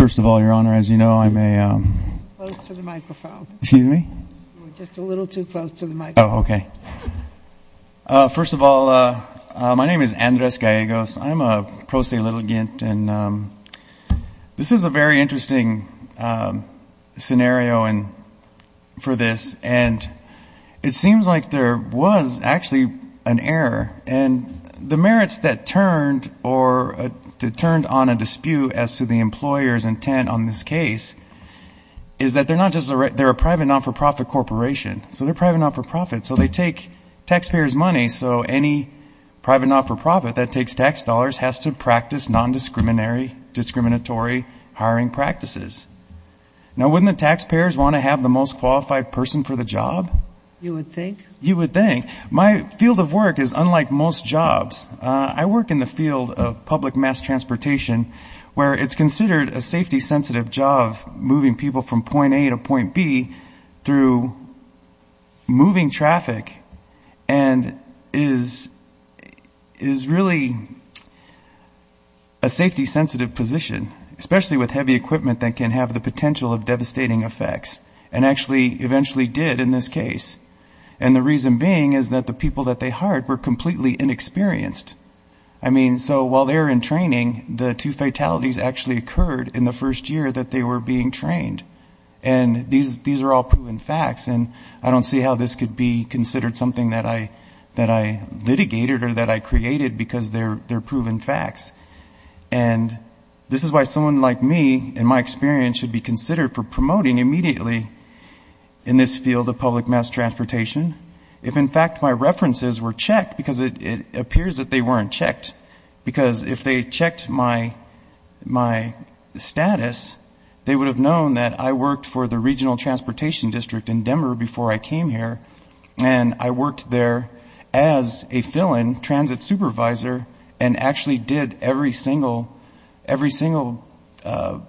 First of all, Your Honor, as you know, I'm a, um... First of all, my name is Andres Gallegos. I'm a pro se litigant, and this is a very interesting scenario for this, and it seems like there was actually an error, and the merits that turned on a dispute as to the employer's intent on this case is that they're not just a, they're a private, not-for-profit corporation, so they're private, not-for-profit, so they take taxpayers' money, so any private, not-for-profit that takes tax dollars has to practice non-discriminatory hiring practices. Now, wouldn't the taxpayers want to have the most qualified person for the job? You would think? You would think. My field of work is unlike most jobs. I work in the field of public mass transportation, where it's considered a safety-sensitive job, moving people from point A to point B through moving traffic, and is really a safety-sensitive position, especially with heavy equipment that can have the potential of devastating effects, and actually eventually did in this case, and the reason being is that the people that they hired were completely inexperienced. I mean, so while they were in training, the two fatalities actually occurred in the first year that they were being trained, and these are all proven facts, and I don't see how this could be considered something that I litigated or that I created because they're proven facts, and this is why someone like me, in my experience, should be considered for promoting immediately in this field of public mass transportation, if in fact my weren't checked, because if they checked my status, they would have known that I worked for the regional transportation district in Denver before I came here, and I worked there as a fill-in transit supervisor, and actually did every single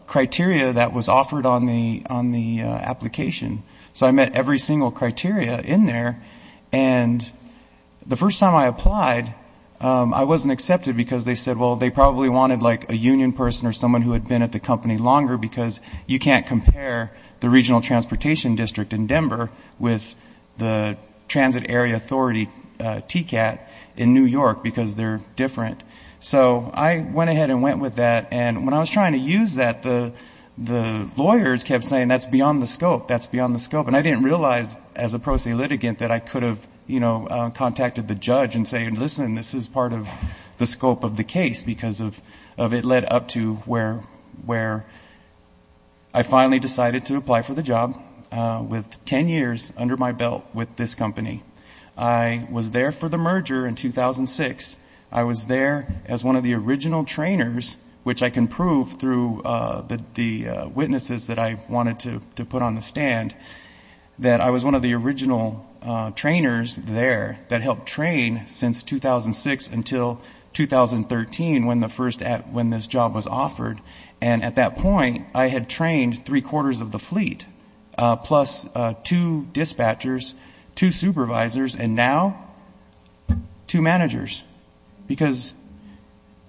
criteria that was offered on the application, so I met every single criteria in there, and the first time I applied, I wasn't accepted because they said, well, they probably wanted like a union person or someone who had been at the company longer because you can't compare the regional transportation district in Denver with the transit area authority TCAT in New York because they're different, so I went ahead and went with that, and when I was trying to use that, the lawyers kept saying that's beyond the scope, that's beyond the scope, and I didn't realize as a pro se litigant that I could have, you know, contacted the judge and say, listen, this is part of the scope of the case because of it led up to where I finally decided to apply for the job with ten years under my belt with this company. I was there for the merger in 2006. I was there as one of the original trainers, which I can prove through the witnesses that I wanted to put on the stand, that I was one of the original trainers there that helped train since 2006 until 2013 when the first, when this job was offered, and at that point, I had trained three quarters of the fleet plus two dispatchers, two supervisors, and now two managers because,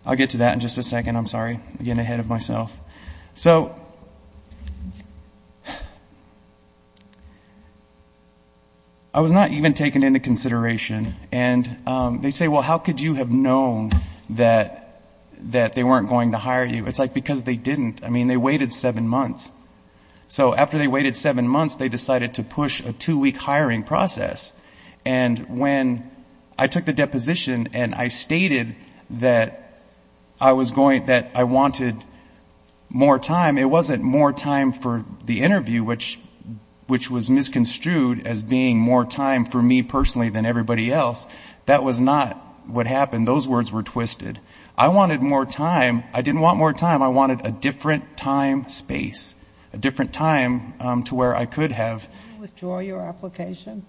I'll get to that in just a second, I'm sorry, I'm getting ahead of myself. So I was not even taken into consideration, and they say, well, how could you have known that they weren't going to hire you? It's like because they didn't. I mean, they waited seven months, so after they waited seven months, they decided to push a two-week hiring process, and when I took the deposition and I stated that I was going, that I wanted more time, it wasn't more time for the interview, which was misconstrued as being more time for me personally than everybody else. That was not what happened. Those words were twisted. I wanted more time. I didn't want more time. I wanted a different time space, a different time to where I could have. Did you withdraw your application?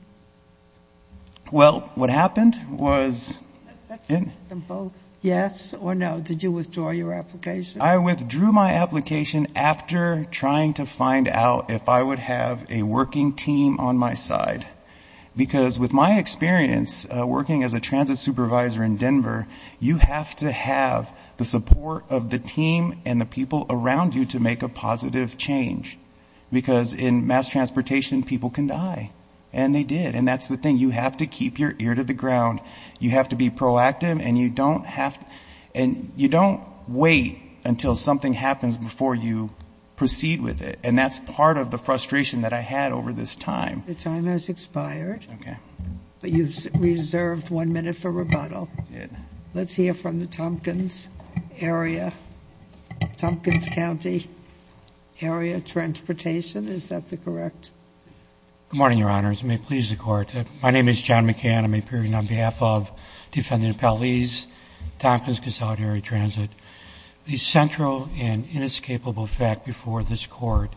Well, what happened was... That's simple. Yes or no, did you withdraw your application? I withdrew my application after trying to find out if I would have a working team on my side because with my experience working as a transit supervisor in Denver, you have to have the support of the team and the people around you to make a positive change because in mass transportation, people can die, and they did, and that's the thing. You have to keep your ear to the ground. You have to be proactive, and you don't wait until something happens before you proceed with it, and that's part of the frustration that I had over this time. Your time has expired. Okay. You've reserved one minute for rebuttal. Let's hear from the Tompkins area, Tompkins County area transportation. Is that the correct? Good morning, Your Honors. May it please the Court. My name is John McCann. I'm appearing on behalf of Defendant Pallese, Tompkins Consolidated Transit. The central and inescapable fact before this Court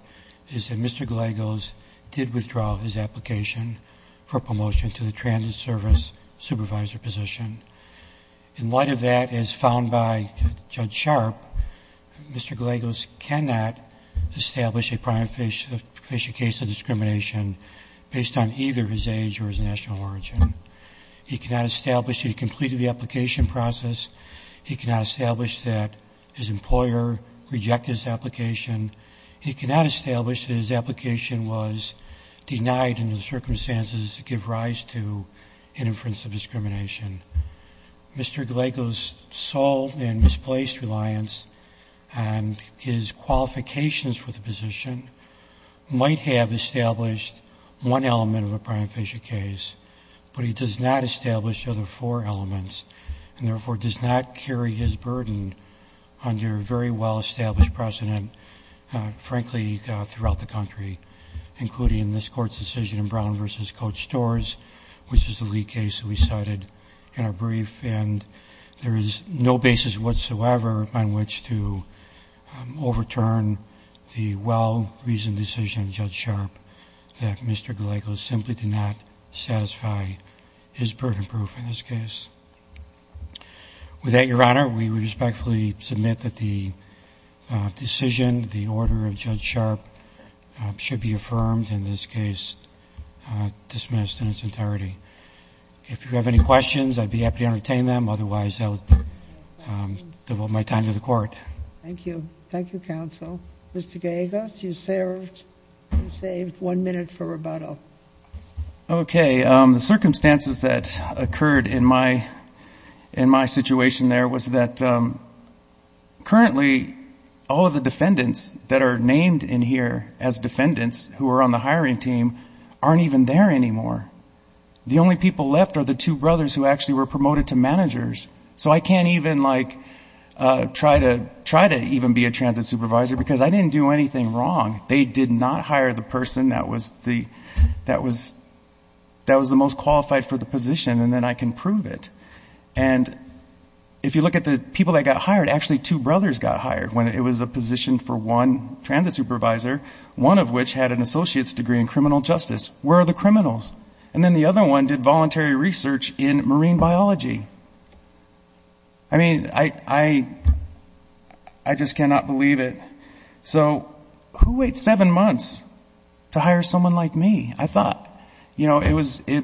is that Mr. Gallegos did withdraw his application for promotion to the transit service supervisor position. In light of that, as found by Judge Sharp, Mr. Gallegos cannot establish a primary case of discrimination based on either his age or his national origin. He cannot establish that he completed the application process. He cannot establish that his employer rejected his application. He cannot establish that his application was denied in the circumstances that give rise to an inference of discrimination. Mr. Gallegos' sole and misplaced reliance on his qualifications for the position might have established one element of a primary facial case, but he does not establish the other four elements, and therefore does not carry his burden under very well-established precedent, frankly, throughout the country, including in this Court's decision in Brown v. Coach Storrs, which is the lead case that we cited in our brief, and there is no basis whatsoever on which to overturn the well-reasoned decision of Judge Sharp that Mr. Gallegos simply did not satisfy his burden proof in this case. With that, Your Honor, we respectfully submit that the decision, the order of Judge Sharp should be affirmed, in this case dismissed in its entirety. If you have any questions, I'd be happy to entertain them. Otherwise, I'll devote my time to the Court. Thank you. Thank you, counsel. Mr. Gallegos, you saved one minute for rebuttal. Okay. The circumstances that occurred in my situation there was that currently all of the defendants that are named in here as defendants who are on the hiring team aren't even there anymore. The only people left are the two brothers who actually were promoted to managers, so I can't even, like, try to even be a transit supervisor because I didn't do anything wrong. They did not hire the person that was the most qualified for the position, and then I can prove it. And if you look at the people that got hired, actually two brothers got hired when it was a position for one transit supervisor, one of which had an associate's degree in criminal justice. Where are the criminals? And then the other one did voluntary research in marine biology. I mean, I just cannot believe it. So who waits seven months to hire someone like me? I thought, you know, it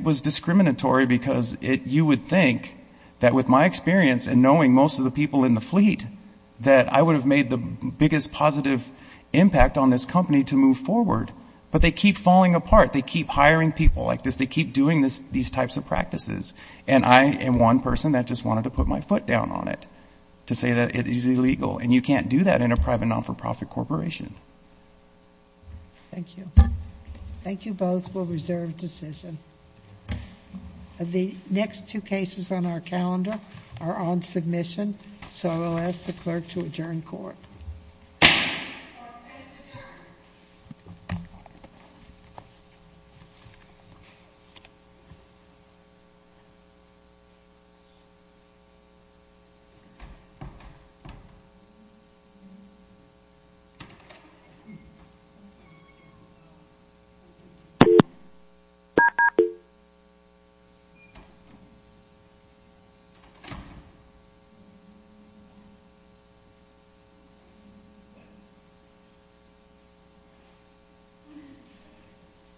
was discriminatory because you would think that with my experience and knowing most of the people in the fleet that I would have made the biggest positive impact on this company to move forward. But they keep falling apart. They keep hiring people like this. They keep doing these types of practices. And I am one person that just wanted to put my foot down on it to say that it is illegal. And you can't do that in a private, not-for-profit corporation. Thank you. Thank you both. We'll reserve decision. The next two cases on our calendar are on submission, so I will ask the clerk to adjourn court. Thank you.